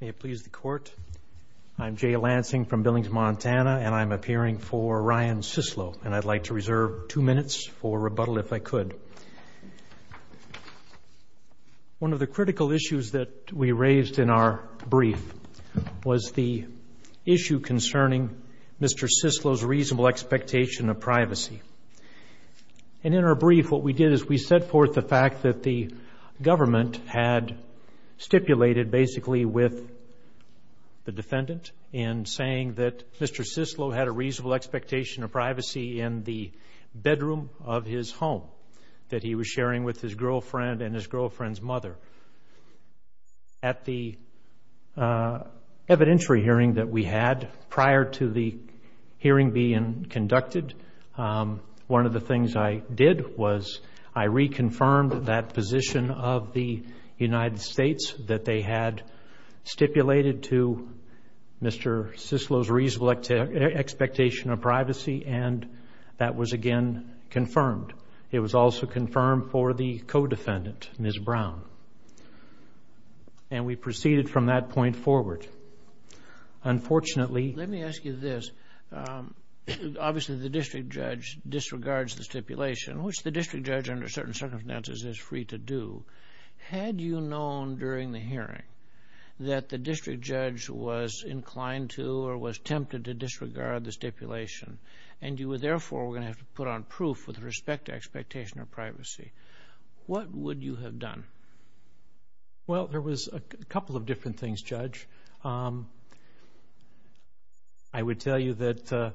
May it please the Court, I'm Jay Lansing from Billings, Montana, and I'm appearing for Ryan Cislo, and I'd like to reserve two minutes for rebuttal if I could. One of the critical issues that we raised in our brief was the issue concerning Mr. Cislo's reasonable expectation of privacy. And in our brief, what we did is we set forth the fact that the government had stipulated basically with the defendant in saying that Mr. Cislo had a reasonable expectation of privacy in the bedroom of his home that he was sharing with his girlfriend and his girlfriend's mother. At the evidentiary hearing that we had prior to the hearing being conducted, one of the things I did was I reconfirmed that position of the United States that they had stipulated to Mr. Cislo's reasonable expectation of privacy, and that was again confirmed. It was also confirmed for the co-defendant, Ms. Brown. And we proceeded from that point forward. Unfortunately... Let me ask you this. Obviously the district judge disregards the stipulation, which the district judge under certain circumstances is free to do. Had you known during the hearing that the district judge was inclined to or was tempted to disregard the stipulation, and you were therefore going to have to put on proof with respect to expectation of privacy, what would you have done? Well, there was a couple of different things, Judge. I would tell you that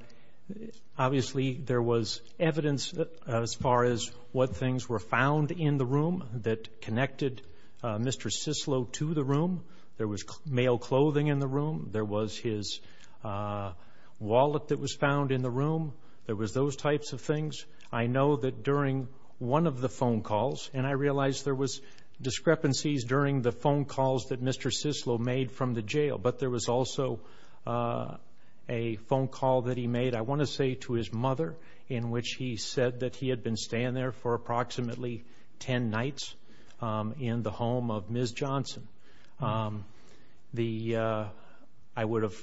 obviously there was evidence as far as what things were found in the room that connected Mr. Cislo to the room. There was male clothing in the room. There was his wallet that was found in the room. There was those types of things. I know that during one of the phone calls, and I realize there was discrepancies during the phone calls that Mr. Cislo made from the jail, but there was also a phone call that he made, I want to say to his mother, in which he said that he had been staying there for approximately ten nights in the home of Ms. Johnson. I would have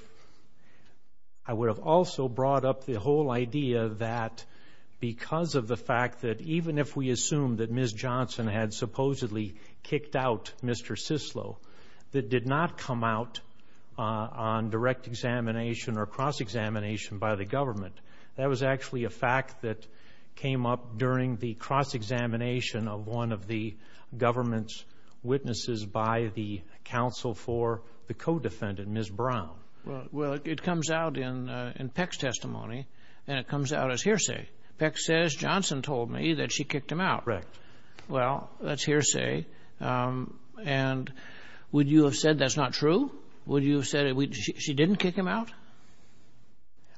also brought up the whole idea that because of the fact that even if we assume that Ms. Johnson had supposedly kicked out Mr. Cislo, that did not come out on direct examination or cross-examination by the government. That was actually a fact that came up during the cross-examination of one of the government's attorneys by the counsel for the co-defendant, Ms. Brown. Well, it comes out in Peck's testimony, and it comes out as hearsay. Peck says, Johnson told me that she kicked him out. Correct. Well, that's hearsay, and would you have said that's not true? Would you have said she didn't kick him out?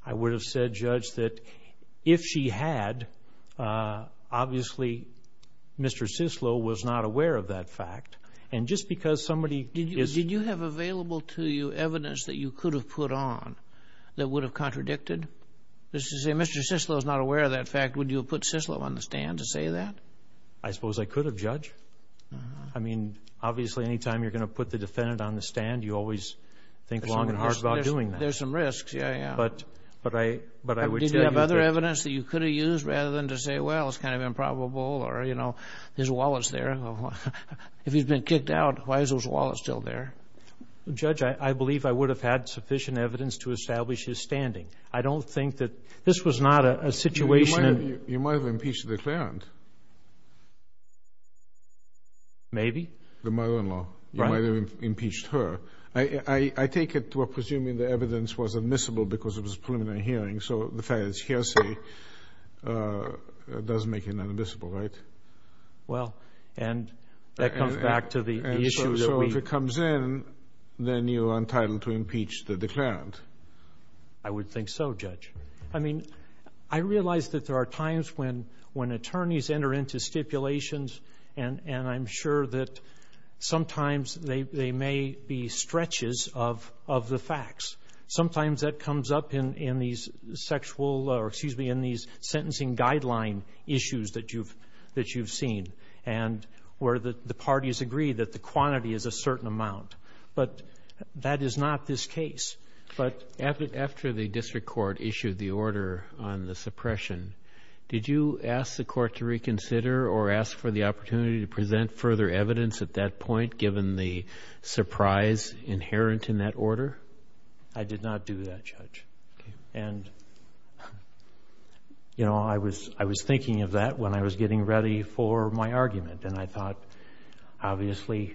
I would have said, Judge, that if she had, obviously Mr. Cislo was not aware of that fact. Did you have available to you evidence that you could have put on that would have contradicted? If Mr. Cislo was not aware of that fact, would you have put Cislo on the stand to say that? I suppose I could have, Judge. Obviously, any time you're going to put the defendant on the stand, you always think long and hard about doing that. There's some risks. Yeah, yeah. Did you have other evidence that you could have used, rather than to say, well, it's kind of improbable, or, you know, there's wallets there. If he's been kicked out, why is those wallets still there? Judge, I believe I would have had sufficient evidence to establish his standing. I don't think that this was not a situation in... You might have impeached the clerent. Maybe. The mother-in-law. Right. You might have impeached her. I take it we're presuming the evidence was admissible because it was a preliminary hearing, so the fact that it's hearsay does make it inadmissible, right? Well, and that comes back to the issue that we... And so if it comes in, then you're entitled to impeach the declarent. I would think so, Judge. I mean, I realize that there are times when attorneys enter into stipulations, and I'm sure that sometimes they may be stretches of the facts. Sometimes that comes up in these sexual, or excuse me, in these sentencing guideline issues that you've seen, and where the parties agree that the quantity is a certain amount. But that is not this case. But after the district court issued the order on the suppression, did you ask the court to reconsider or ask for the opportunity to present further evidence at that point, given the surprise inherent in that order? I did not do that, Judge. And I was thinking of that when I was getting ready for my argument, and I thought, obviously,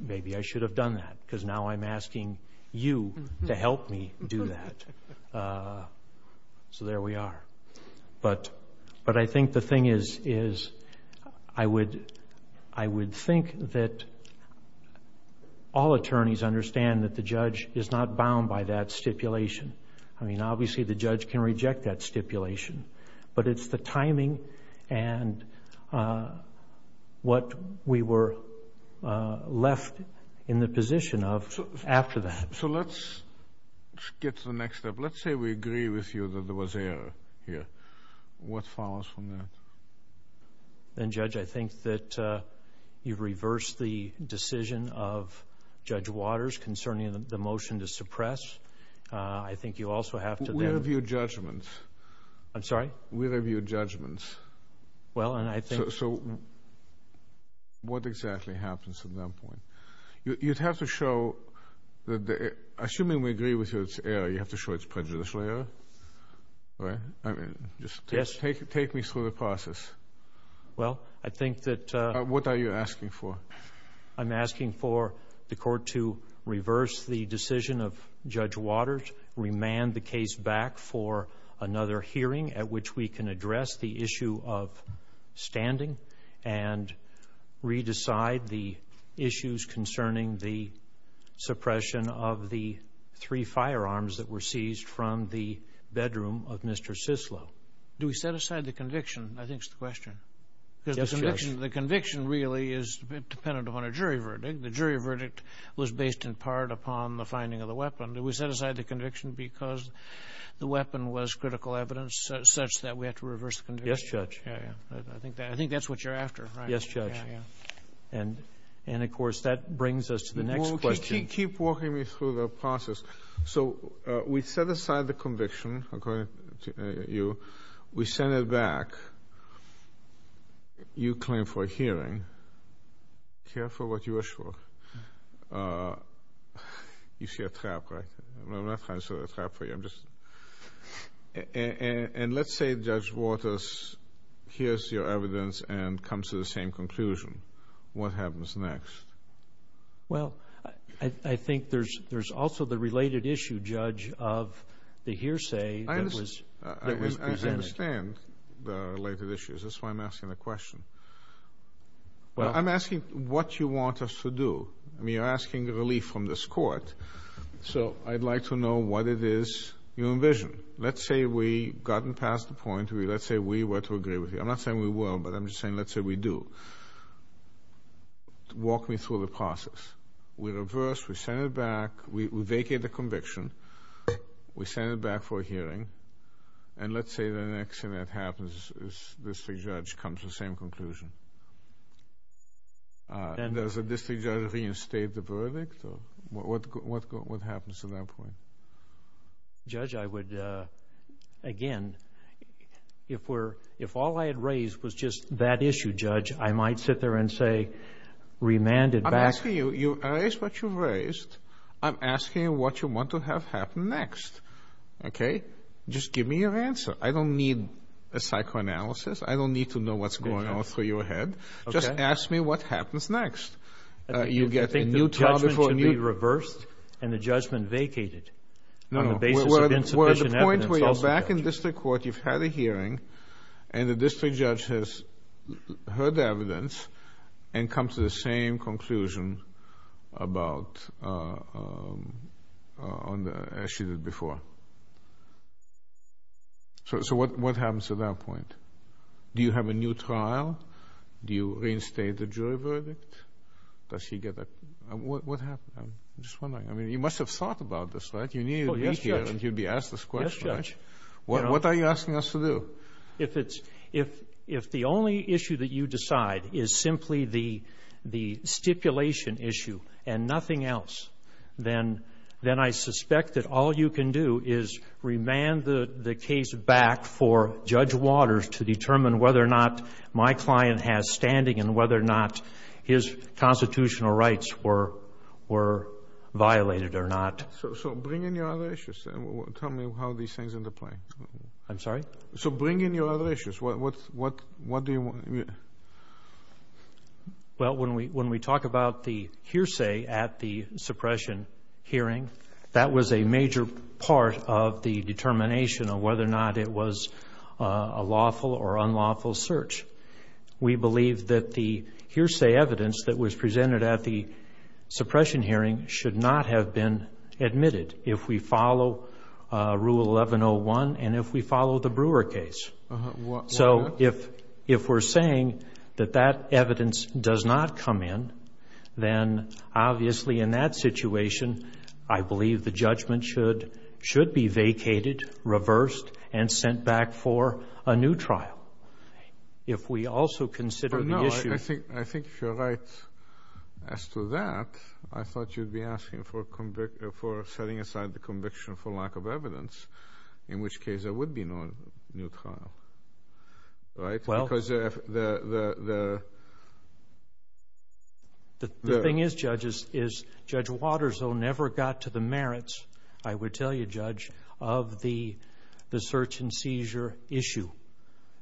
maybe I should have done that, because now I'm asking you to help me do that. So there we are. But I think the thing is, I would think that all attorneys understand that the judge is not bound by that stipulation. I mean, obviously, the judge can reject that stipulation, but it's the timing and what we were left in the position of after that. So let's get to the next step. Let's say we agree with you that there was error here. What follows from that? Then, Judge, I think that you've reversed the decision of Judge Waters concerning the motion to suppress. I think you also have to then— Where have your judgments? I'm sorry? Where have your judgments? Well, and I think— So what exactly happens at that point? You'd have to show—assuming we agree with you it's error, you have to show it's prejudicial error, right? I mean, just take me through the process. Well, I think that— What are you asking for? I'm asking for the Court to reverse the decision of Judge Waters, remand the case back for another hearing at which we can address the issue of standing and re-decide the issues concerning the suppression of the three firearms that were seized from the bedroom of Mr. Sislo. Do we set aside the conviction? I think it's the question. Yes, Judge. Because the conviction really is dependent upon a jury verdict. The jury verdict was based in part upon the finding of the weapon. Do we set aside the conviction because the weapon was critical evidence such that we have to reverse the conviction? Yes, Judge. Yeah, yeah. I think that's what you're after, right? Yes, Judge. Yeah, yeah. And, of course, that brings us to the next question. Keep walking me through the process. So we set aside the conviction according to you. We send it back. You claim for a hearing. Careful what you wish for. You see a trap, right? I'm not trying to set a trap for you. And let's say Judge Waters hears your evidence and comes to the same conclusion. What happens next? Well, I think there's also the related issue, Judge, of the hearsay that was presented. I understand the related issues. That's why I'm asking the question. Well, I'm asking what you want us to do. I mean, you're asking relief from this Court. So I'd like to know what it is you envision. Let's say we've gotten past the point. Let's say we were to agree with you. I'm not saying we will, but I'm just saying let's say we do. Walk me through the process. We reverse. We send it back. We vacate the conviction. We send it back for a hearing. And let's say the next thing that happens is the district judge comes to the same conclusion. Does the district judge reinstate the verdict? What happens to that point? Judge, I would, again, if all I had raised was just that issue, Judge, I might sit there and say remand it back. I'm asking what you want to have happen next. Just give me your answer. I don't need a psychoanalysis. I don't need to know what's going on through your head. Just ask me what happens next. You get a new trial before a new... Do you think the judgment should be reversed and the judgment vacated on the basis of insufficient evidence? No. We're at the point where you're back in district court. You've had a hearing, and the district judge has heard the evidence and come to the same conclusion about...as she did before. So what happens to that point? Do you have a new trial? Do you reinstate the jury verdict? Does she get a... What happens? I'm just wondering. I mean, you must have thought about this, right? You needed me here, and you'd be asked this question, right? What are you asking us to do? So if it's...if the only issue that you decide is simply the stipulation issue and nothing else, then I suspect that all you can do is remand the case back for Judge Waters to determine whether or not my client has standing and whether or not his constitutional rights were violated or not. So bring in your other issues and tell me how these things interplay. I'm sorry? I'm sorry? So bring in your other issues. What...what...what do you want? Well, when we talk about the hearsay at the suppression hearing, that was a major part of the determination of whether or not it was a lawful or unlawful search. We believe that the hearsay evidence that was presented at the suppression hearing should not have been admitted if we follow Rule 1101 and if we follow the Brewer case. So if we're saying that that evidence does not come in, then obviously in that situation, I believe the judgment should be vacated, reversed, and sent back for a new trial. If we also consider the issue... for setting aside the conviction for lack of evidence, in which case there would be no new trial, right? Well... Because the... The thing is, Judge, is Judge Waters, though, never got to the merits, I would tell you, Judge, of the search and seizure issue.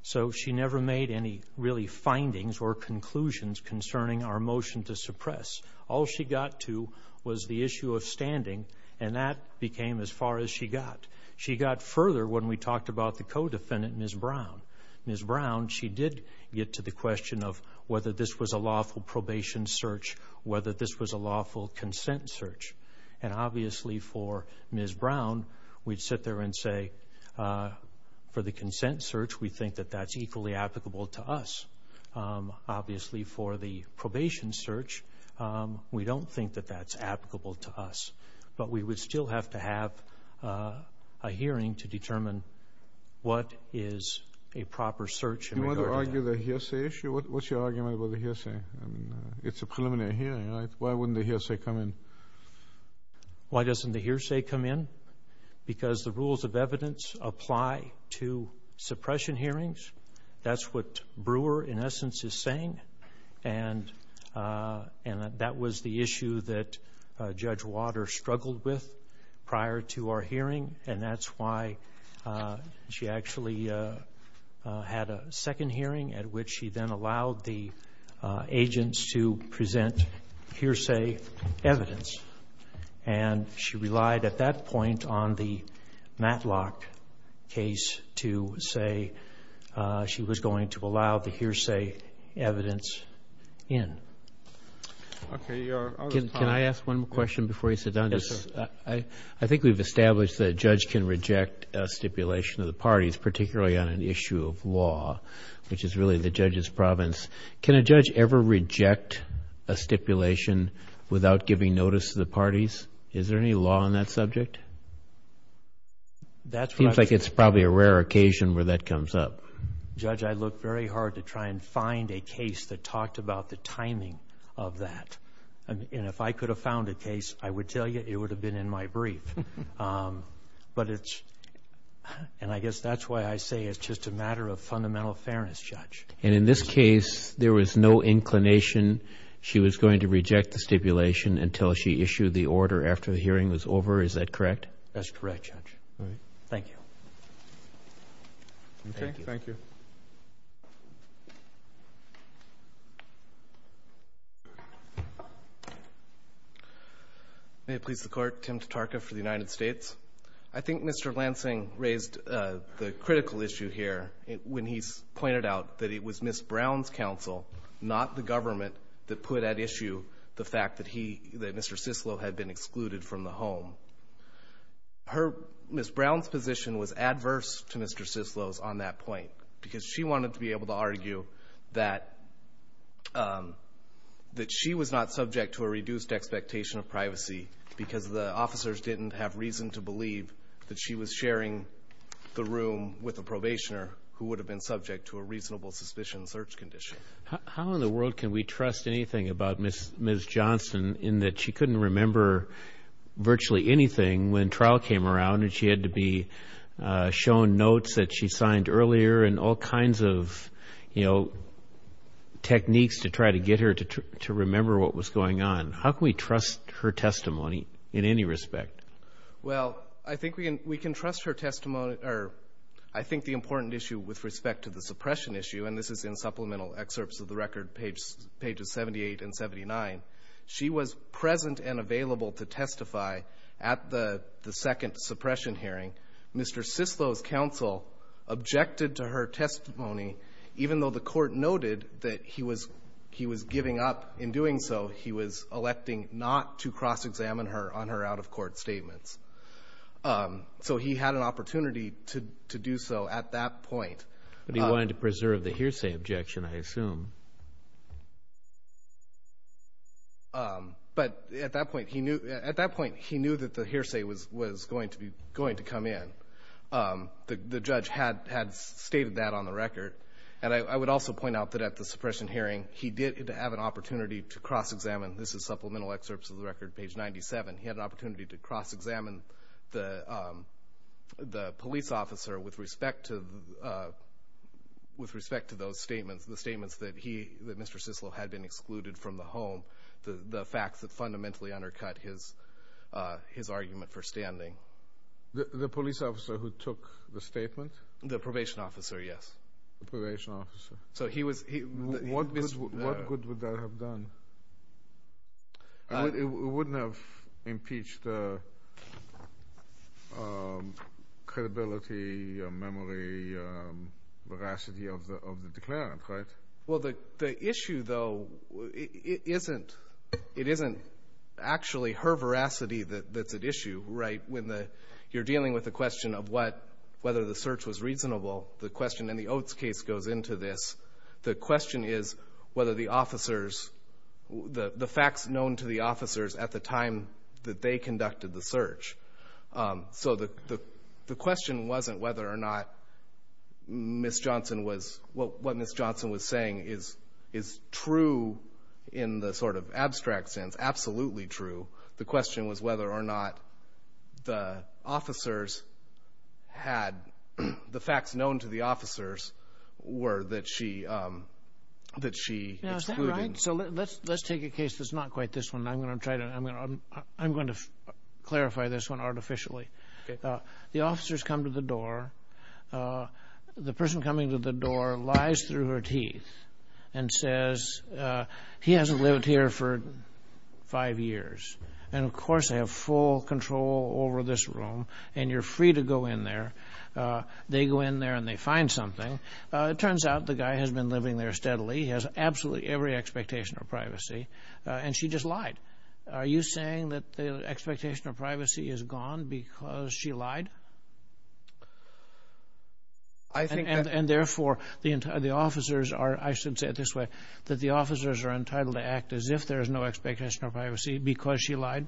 So she never made any really findings or conclusions concerning our motion to suppress. All she got to was the issue of standing, and that became as far as she got. She got further when we talked about the co-defendant, Ms. Brown. Ms. Brown, she did get to the question of whether this was a lawful probation search, whether this was a lawful consent search. And obviously for Ms. Brown, we'd sit there and say, for the consent search, we think that that's equally applicable to us. Obviously for the probation search, we don't think that that's applicable to us. But we would still have to have a hearing to determine what is a proper search in regard to that. Do you want to argue the hearsay issue? What's your argument about the hearsay? I mean, it's a preliminary hearing, right? Why wouldn't the hearsay come in? Why doesn't the hearsay come in? Because the rules of evidence apply to suppression hearings. That's what Brewer, in essence, is saying, and that was the issue that Judge Water struggled with prior to our hearing, and that's why she actually had a second hearing at which she then allowed the agents to present hearsay evidence. And she relied at that point on the Matlock case to say she was going to allow the hearsay evidence in. Okay. You are out of time. Can I ask one more question before you sit down? Yes, sir. I think we've established that a judge can reject a stipulation of the parties, particularly on an issue of law, which is really the judge's province. Can a judge ever reject a stipulation without giving notice to the parties? Is there any law on that subject? That seems like it's probably a rare occasion where that comes up. Judge, I looked very hard to try and find a case that talked about the timing of that, and if I could have found a case, I would tell you it would have been in my brief. But it's, and I guess that's why I say it's just a matter of fundamental fairness, Judge. And in this case, there was no inclination she was going to reject the stipulation until she issued the order after the hearing was over. Is that correct? That's correct, Judge. All right. Thank you. Okay. Thank you. May it please the Court, Tim Tatarka for the United States. I think Mr. Lansing raised the critical issue here when he pointed out that it was Ms. Brown's counsel, not the government, that put at issue the fact that he, that Mr. Cicillo had been excluded from the home. Her, Ms. Brown's position was adverse to Mr. Cicillo's on that point because she wanted to be able to argue that she was not subject to a reduced expectation of privacy because the officers didn't have reason to believe that she was sharing the room with a probationer who would have been subject to a reasonable suspicion search condition. How in the world can we trust anything about Ms. Johnson in that she couldn't remember virtually anything when trial came around and she had to be shown notes that she signed earlier and all kinds of, you know, techniques to try to get her to remember what was going on. How can we trust her testimony in any respect? Well, I think we can trust her testimony, or I think the important issue with respect to the suppression issue, and this is in supplemental excerpts of the record, pages 78 and 79. She was present and available to testify at the second suppression hearing. Mr. Cicillo's counsel objected to her testimony even though the Court noted that he was giving up in doing so. He was electing not to cross-examine her on her out-of-court statements. So he had an opportunity to do so at that point. But he wanted to preserve the hearsay objection, I assume. But at that point, he knew that the hearsay was going to come in. The judge had stated that on the record. And I would also point out that at the suppression hearing, he did have an opportunity to cross-examine This is supplemental excerpts of the record, page 97. He had an opportunity to cross-examine the police officer with respect to those statements, the statements that Mr. Cicillo had been excluded from the home, the facts that fundamentally undercut his argument for standing. The police officer who took the statement? The probation officer, yes. So he was... What good would that have done? It wouldn't have impeached the credibility, memory, veracity of the declarant, right? Well, the issue, though, it isn't actually her veracity that's at issue, right? You're dealing with the question of whether the search was reasonable. The question in the Oates case goes into this. The question is whether the officers... The facts known to the officers at the time that they conducted the search. So the question wasn't whether or not Ms. Johnson was... What Ms. Johnson was saying is true in the sort of abstract sense, absolutely true. The question was whether or not the officers had... The facts known to the officers were that she excluded... Now, is that right? So let's take a case that's not quite this one, and I'm going to try to... I'm going to clarify this one artificially. The officers come to the door. The person coming to the door lies through her teeth and says, he hasn't lived here for five years, and of course they have full control over this room, and you're free to go in there. They go in there and they find something. It turns out the guy has been living there steadily. He has absolutely every expectation of privacy, and she just lied. Are you saying that the expectation of privacy is gone because she lied? I think that... And therefore, the officers are... I should say it this way, that the officers are entitled to act as if there is no expectation of privacy because she lied?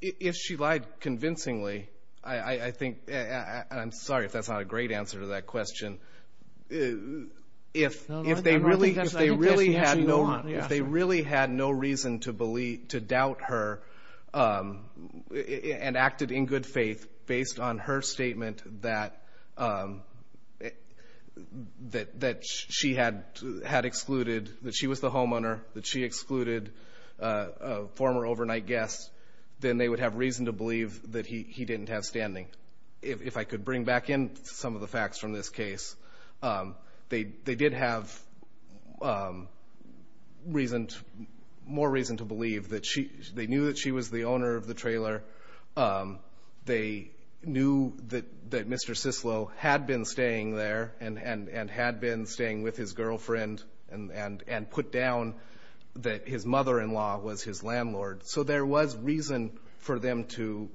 If she lied convincingly, I think... I'm sorry if that's not a great answer to that question. If they really had no reason to doubt her and acted in good faith based on her statement that she had excluded, that she was the homeowner, that she excluded a former overnight guest, then they would have reason to believe that he didn't have standing. If I could bring back in some of the facts from this case, they did have more reason to believe that she... They knew that she was the owner of the trailer. They knew that Mr. Sislo had been staying there and had been staying with his girlfriend and put down that his mother-in-law was his landlord. So there was reason for them to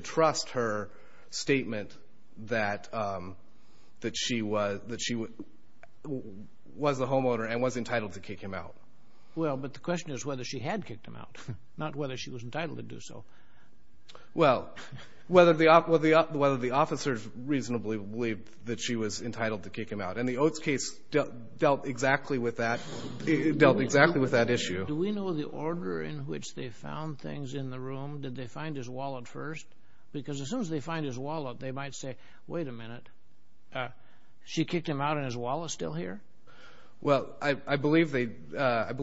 trust her statement that she was the homeowner and was entitled to kick him out. Well, but the question is whether she had kicked him out, not whether she was entitled to do so. Well, whether the officers reasonably believed that she was entitled to kick him out. And the Oates case dealt exactly with that issue. Do we know the order in which they found things in the room? Did they find his wallet first? Because as soon as they find his wallet, they might say, wait a minute, she kicked him out and his wallet's still here? Well, I believe that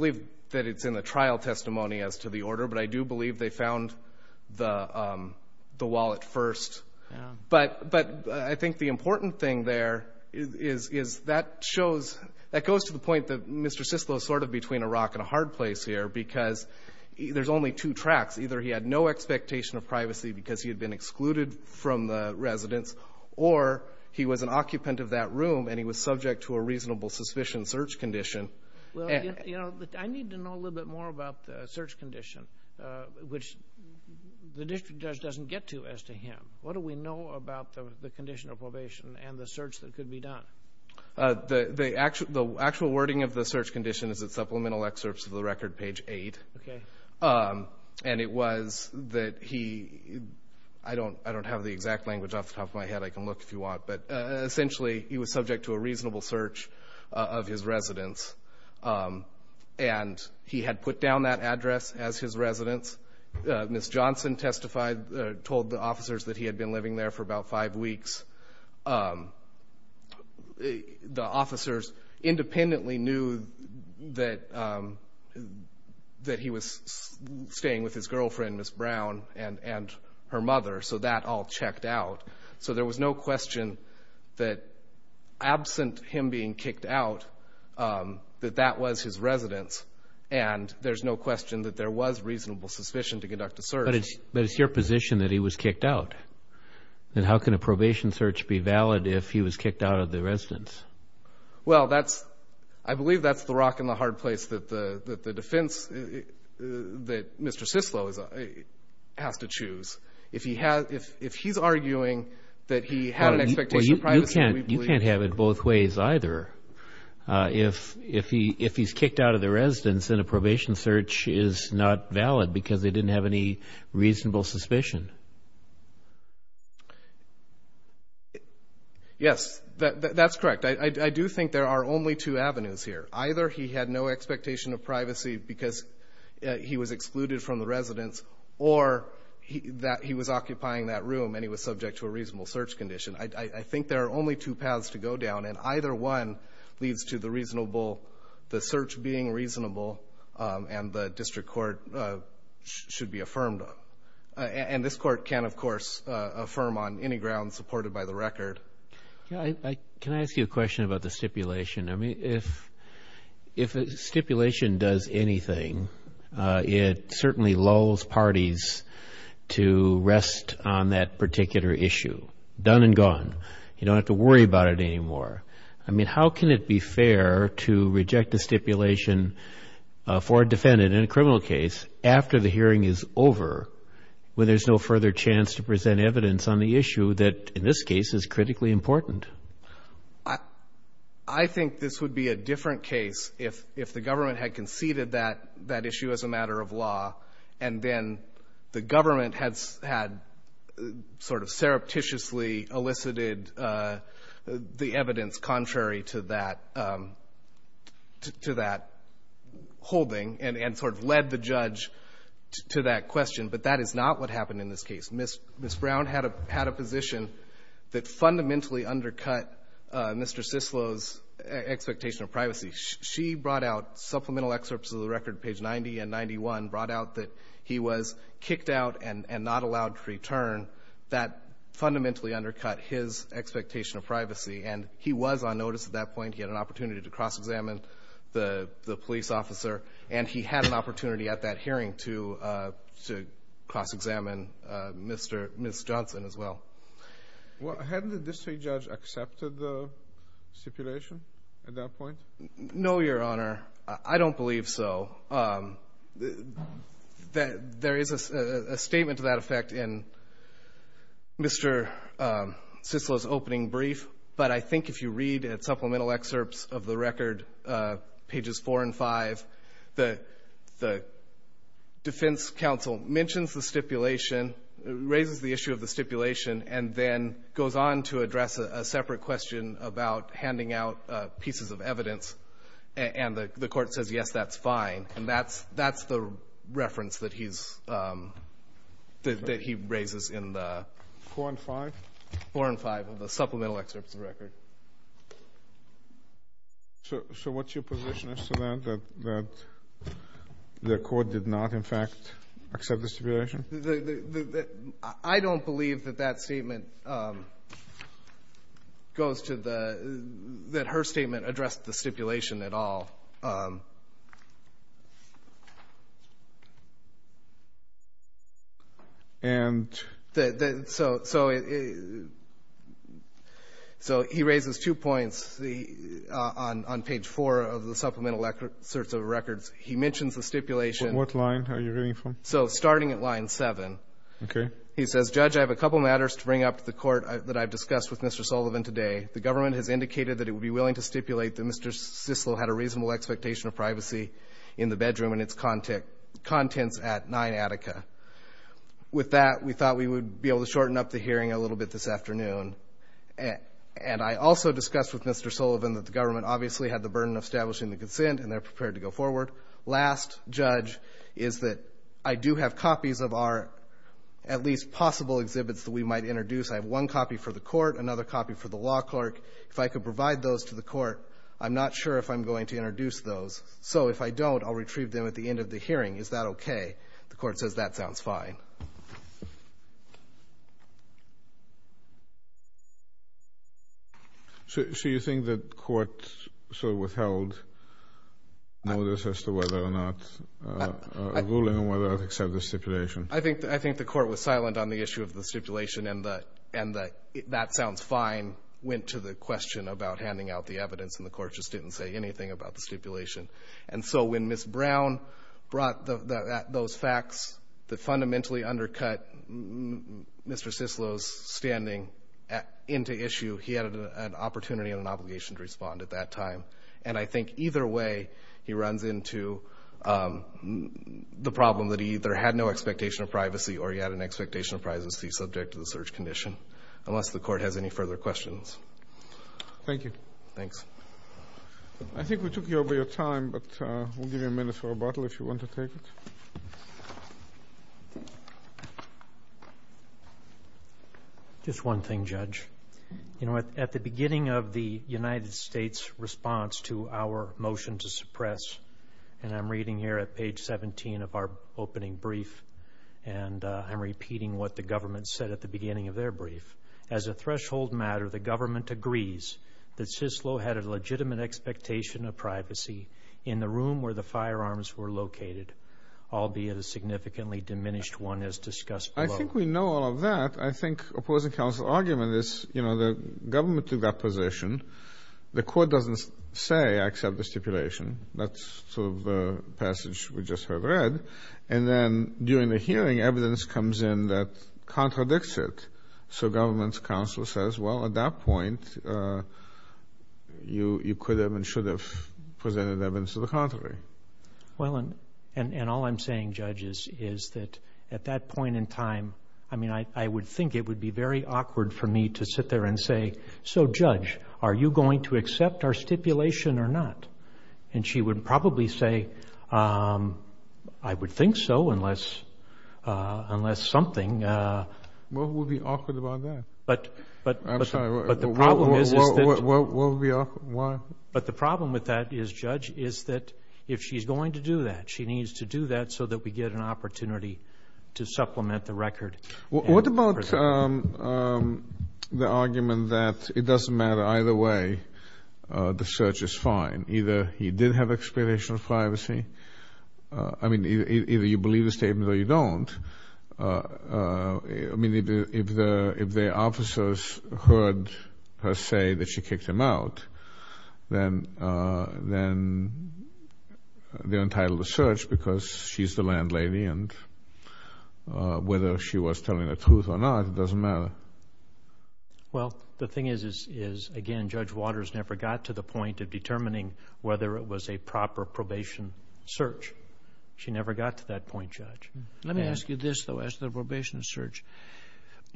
it's in the trial testimony as to the order, but I do believe they found the wallet first. But I think the important thing there is that shows... That goes to the point that Mr. Sislo is sort of between a rock and a hard place here because there's only two tracks. Either he had no expectation of privacy because he had been excluded from the residence or he was an occupant of that room and he was subject to a reasonable suspicion search condition. Well, you know, I need to know a little bit more about the search condition, which the district judge doesn't get to as to him. What do we know about the condition of probation and the search that could be done? The actual wording of the search condition is at supplemental excerpts of the record, page 8. Okay. And it was that he... I don't have the exact language off the top of my head. I can look if you want. But essentially, he was subject to a reasonable search of his residence. And he had put down that address as his residence. Ms. Johnson testified, told the officers that he had been living there for about five weeks. The officers independently knew that he was staying with his girlfriend, Ms. Brown, and her mother. So that all checked out. So there was no question that absent him being kicked out, that that was his residence. And there's no question that there was reasonable suspicion to conduct a search. But it's your position that he was kicked out. And how can a probation search be valid if he was kicked out of the residence? Well, that's... I believe that's the rock and the hard place that the defense, that Mr. Sislo has to choose. If he's arguing that he had an expectation of privacy, we believe... You can't have it both ways either. If he's kicked out of the residence, then a probation search is not valid because they didn't have any reasonable suspicion. Yes, that's correct. I do think there are only two avenues here. Either he had no expectation of privacy because he was excluded from the residence, or that he was occupying that room and he was subject to a reasonable search condition. I think there are only two paths to go down. And either one leads to the search being reasonable and the district court should be affirmed. And this court can, of course, affirm on any grounds supported by the record. Can I ask you a question about the stipulation? I mean, if a stipulation does anything, it certainly lulls parties to rest on that particular issue. Done and gone. You don't have to worry about it anymore. I mean, how can it be fair to reject a stipulation for a defendant in a criminal case after the hearing is over when there's no further chance to present evidence on the issue that, in this case, is critically important? I think this would be a different case if the government had conceded that issue as a matter of law, and then the government had sort of surreptitiously elicited the evidence contrary to that holding and sort of led the judge to that question. But that is not what happened in this case. Ms. Brown had a position that fundamentally undercut Mr. Cicillo's expectation of privacy. She brought out supplemental excerpts of the record, page 90 and 91, brought out that he was kicked out and not allowed to return. That fundamentally undercut his expectation of privacy. And he was on notice at that point. He had an opportunity to cross-examine the police officer. And he had an opportunity at that hearing to cross-examine Ms. Johnson as well. Hadn't the district judge accepted the stipulation at that point? No, Your Honor. I don't believe so. There is a statement to that effect in Mr. Cicillo's opening brief. But I think if you read at supplemental excerpts of the record, pages 4 and 5, the defense counsel mentions the stipulation, raises the issue of the stipulation, and then goes on to address a separate question about handing out pieces of evidence. And the Court says, yes, that's fine. And that's the reference that he's – that he raises in the – 4 and 5? 4 and 5 of the supplemental excerpts of the record. So what's your position as to that, that the Court did not, in fact, accept the stipulation? I don't believe that that statement goes to the – that her statement addressed the stipulation at all. And? So he raises two points on page 4 of the supplemental excerpts of the records. He mentions the stipulation. What line are you reading from? So starting at line 7. Okay. He says, Judge, I have a couple matters to bring up to the Court that I've discussed with Mr. Sullivan today. The government has indicated that it would be willing to stipulate that Mr. Sislo had a reasonable expectation of privacy in the bedroom and its contents at 9 Attica. With that, we thought we would be able to shorten up the hearing a little bit this afternoon. And I also discussed with Mr. Sullivan that the government obviously had the burden of establishing the consent, and they're prepared to go forward. Last, Judge, is that I do have copies of our – at least possible exhibits that we might introduce. I have one copy for the Court, another copy for the law clerk. If I could provide those to the Court, I'm not sure if I'm going to introduce those. So if I don't, I'll retrieve them at the end of the hearing. Is that okay? The Court says that sounds fine. So you think that the Court sort of withheld notice as to whether or not – a ruling on whether or not to accept the stipulation? I think the Court was silent on the issue of the stipulation and that that sounds fine went to the question about handing out the evidence, and the Court just didn't say anything about the stipulation. And so when Ms. Brown brought those facts that fundamentally undercut Mr. Sislo's standing into issue, he had an opportunity and an obligation to respond at that time. And I think either way, he runs into the problem that he either had no expectation of privacy or he had an expectation of privacy subject to the search condition, unless the Court has any further questions. Thank you. Thanks. I think we took over your time, but we'll give you a minute for rebuttal if you want to take it. Just one thing, Judge. You know, at the beginning of the United States' response to our motion to suppress, and I'm reading here at page 17 of our opening brief, and I'm repeating what the government said at the beginning of their brief, as a threshold matter, the government agrees that Sislo had a legitimate expectation of privacy in the room where the firearms were located, albeit a significantly diminished one as discussed below. I think we know all of that. I think opposing counsel's argument is, you know, the government took that position. The Court doesn't say, I accept the stipulation. That's sort of the passage we just heard read. And then during the hearing, evidence comes in that contradicts it. So government's counsel says, well, at that point, you could have and should have presented evidence to the contrary. Well, and all I'm saying, Judge, is that at that point in time, I mean, I would think it would be very awkward for me to sit there and say, so, Judge, are you going to accept our stipulation or not? And she would probably say, I would think so, unless something. Well, who would be awkward about that? But the problem is that. What would be awkward, why? But the problem with that is, Judge, is that if she's going to do that, she needs to do that so that we get an opportunity to supplement the record. What about the argument that it doesn't matter, either way, the search is fine? Either he did have expirational privacy, I mean, either you believe the statement or you don't. I mean, if the officers heard her say that she kicked him out, then they're entitled to search because she's the landlady and whether she was telling the truth or not, it doesn't matter. Well, the thing is, is again, Judge Waters never got to the point of determining whether it was a proper probation search. She never got to that point, Judge. Let me ask you this, though, as to the probation search,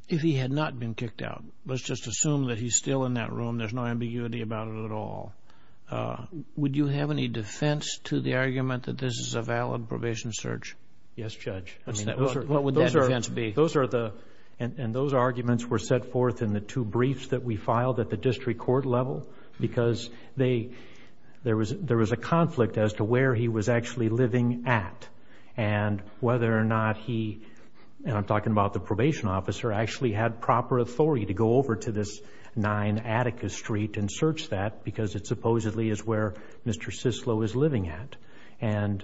if he had not been kicked out, let's just assume that he's still in that room, there's no ambiguity about it at all. Would you have any defense to the argument that this is a valid probation search? Yes, Judge. I mean, what would that defense be? Those are the, and those arguments were set forth in the two briefs that we filed at the district court level because there was a conflict as to where he was actually living at and whether or not he, and I'm talking about the probation officer, actually had proper authority to go over to this 9 Atticus Street and search that because it supposedly is where Mr. Sislo is living at. And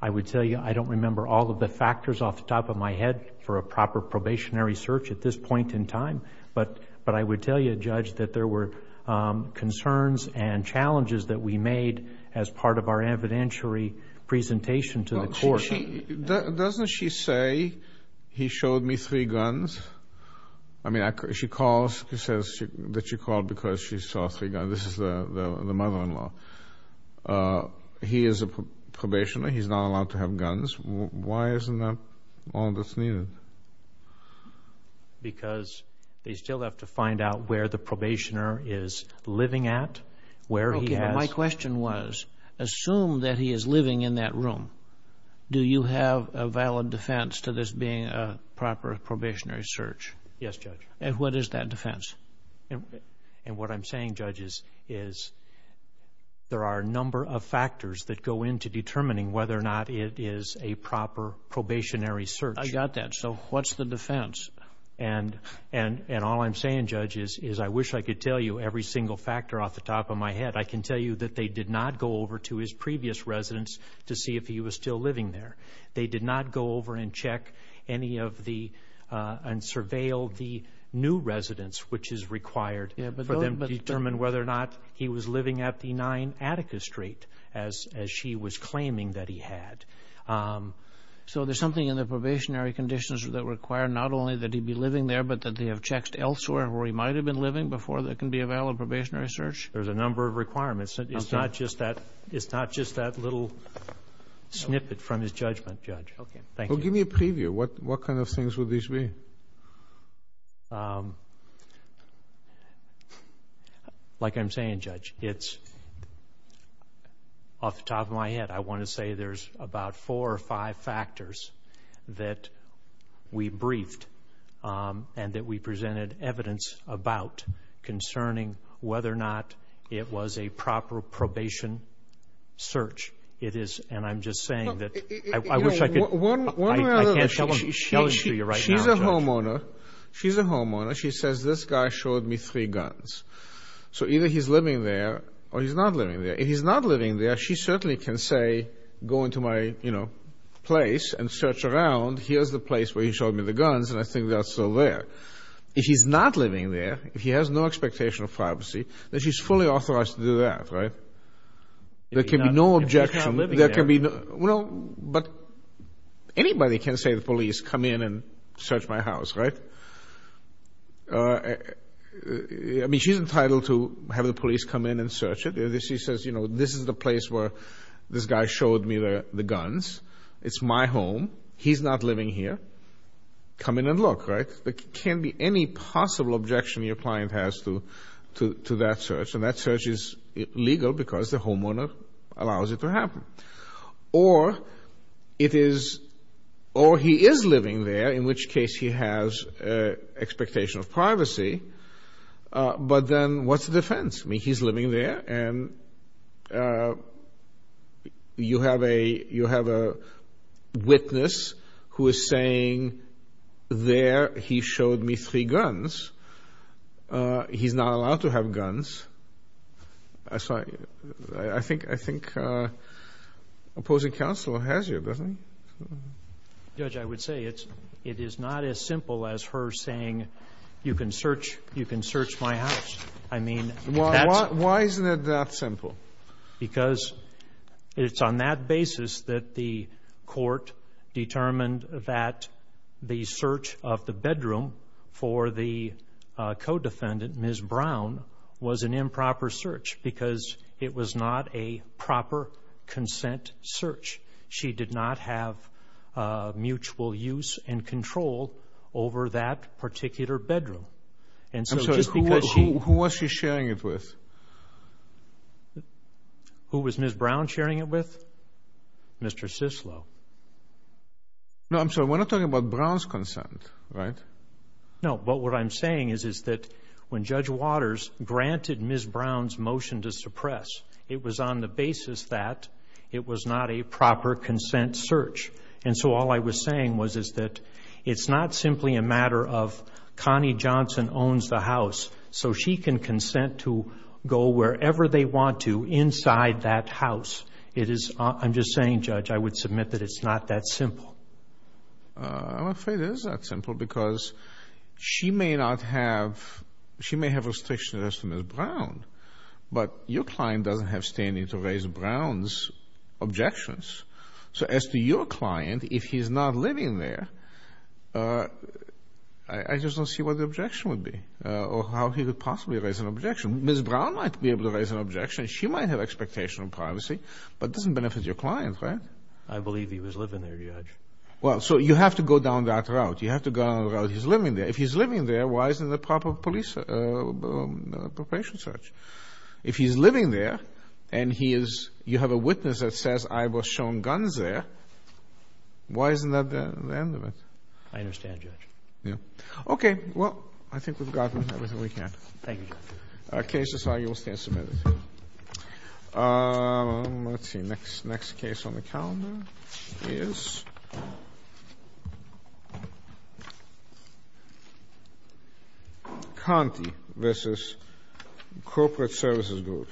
I would tell you, I don't remember all of the factors off the top of my head for a proper probationary search at this point in time, but I would tell you, Judge, that there were concerns and challenges that we made as part of our evidentiary presentation to the court. Now, doesn't she say, he showed me three guns, I mean, she calls, she says that she called because she saw three guns, this is the mother-in-law, he is a probationer, he's not allowed to have guns, why isn't that all that's needed? Because they still have to find out where the probationer is living at, where he has... Do you have a valid defense to this being a proper probationary search? Yes, Judge. And what is that defense? And what I'm saying, Judge, is there are a number of factors that go into determining whether or not it is a proper probationary search. I got that. So, what's the defense? And all I'm saying, Judge, is I wish I could tell you every single factor off the top of my head. But I can tell you that they did not go over to his previous residence to see if he was still living there. They did not go over and check any of the, and surveil the new residence, which is required for them to determine whether or not he was living at the 9 Attica Strait, as she was claiming that he had. So, there's something in the probationary conditions that require not only that he be living there, but that they have checked elsewhere where he might have been living before there can be a valid probationary search? There's a number of requirements. It's not just that little snippet from his judgment, Judge. Okay. Thank you. Well, give me a preview. What kind of things would these be? Like I'm saying, Judge, it's off the top of my head. I want to say there's about four or five factors that we briefed and that we presented evidence about concerning whether or not it was a proper probation search. It is, and I'm just saying that, I wish I could, I can't tell you right now. She's a homeowner. She's a homeowner. She says, this guy showed me three guns. So, either he's living there or he's not living there. If he's not living there, she certainly can say, go into my, you know, place and search around. Here's the place where he showed me the guns, and I think that's still there. If he's not living there, if he has no expectation of privacy, then she's fully authorized to do that, right? There can be no objection. If he's not living there. There can be no, well, but anybody can say to the police, come in and search my house, right? I mean, she's entitled to have the police come in and search it. She says, you know, this is the place where this guy showed me the guns. It's my home. He's not living here. Come in and look, right? There can be any possible objection your client has to that search, and that search is legal because the homeowner allows it to happen. Or it is, or he is living there, in which case he has expectation of privacy. But then what's the defense? I mean, he's living there, and you have a witness who is saying, there he showed me three guns. He's not allowed to have guns. So I think opposing counsel has you, doesn't he? Judge, I would say it is not as simple as her saying, you can search my house. I mean, that's Why isn't it that simple? Because it's on that basis that the court determined that the search of the bedroom for the co-defendant, Ms. Brown, was an improper search because it was not a proper consent search. She did not have mutual use and control over that particular bedroom. I'm sorry, who was she sharing it with? Who was Ms. Brown sharing it with? Mr. Sislo. No, I'm sorry, we're not talking about Brown's consent, right? No, but what I'm saying is that when Judge Waters granted Ms. Brown's motion to suppress, it was on the basis that it was not a proper consent search. And so all I was saying was, is that it's not simply a matter of Connie Johnson owns the house. So she can consent to go wherever they want to inside that house. It is, I'm just saying, Judge, I would submit that it's not that simple. I'm afraid it is not simple because she may not have, she may have restriction as to Ms. Brown, but your client doesn't have standing to raise Brown's objections. So as to your client, if he's not living there, I just don't see what the objection would be or how he would possibly raise an objection. Ms. Brown might be able to raise an objection. She might have expectation of privacy, but it doesn't benefit your client, right? I believe he was living there, Judge. Well, so you have to go down that route. You have to go down the route he's living there. If he's living there, why isn't it a proper police, a proper patient search? If he's living there and he is, you have a witness that says I was shown guns there, why isn't that the end of it? I understand, Judge. Yeah. Okay. Well, I think we've gotten everything we can. Thank you, Judge. Our case is filed. You will stand submitted. Let's see. Next, next case on the calendar is Conti v. Corporate Services Group.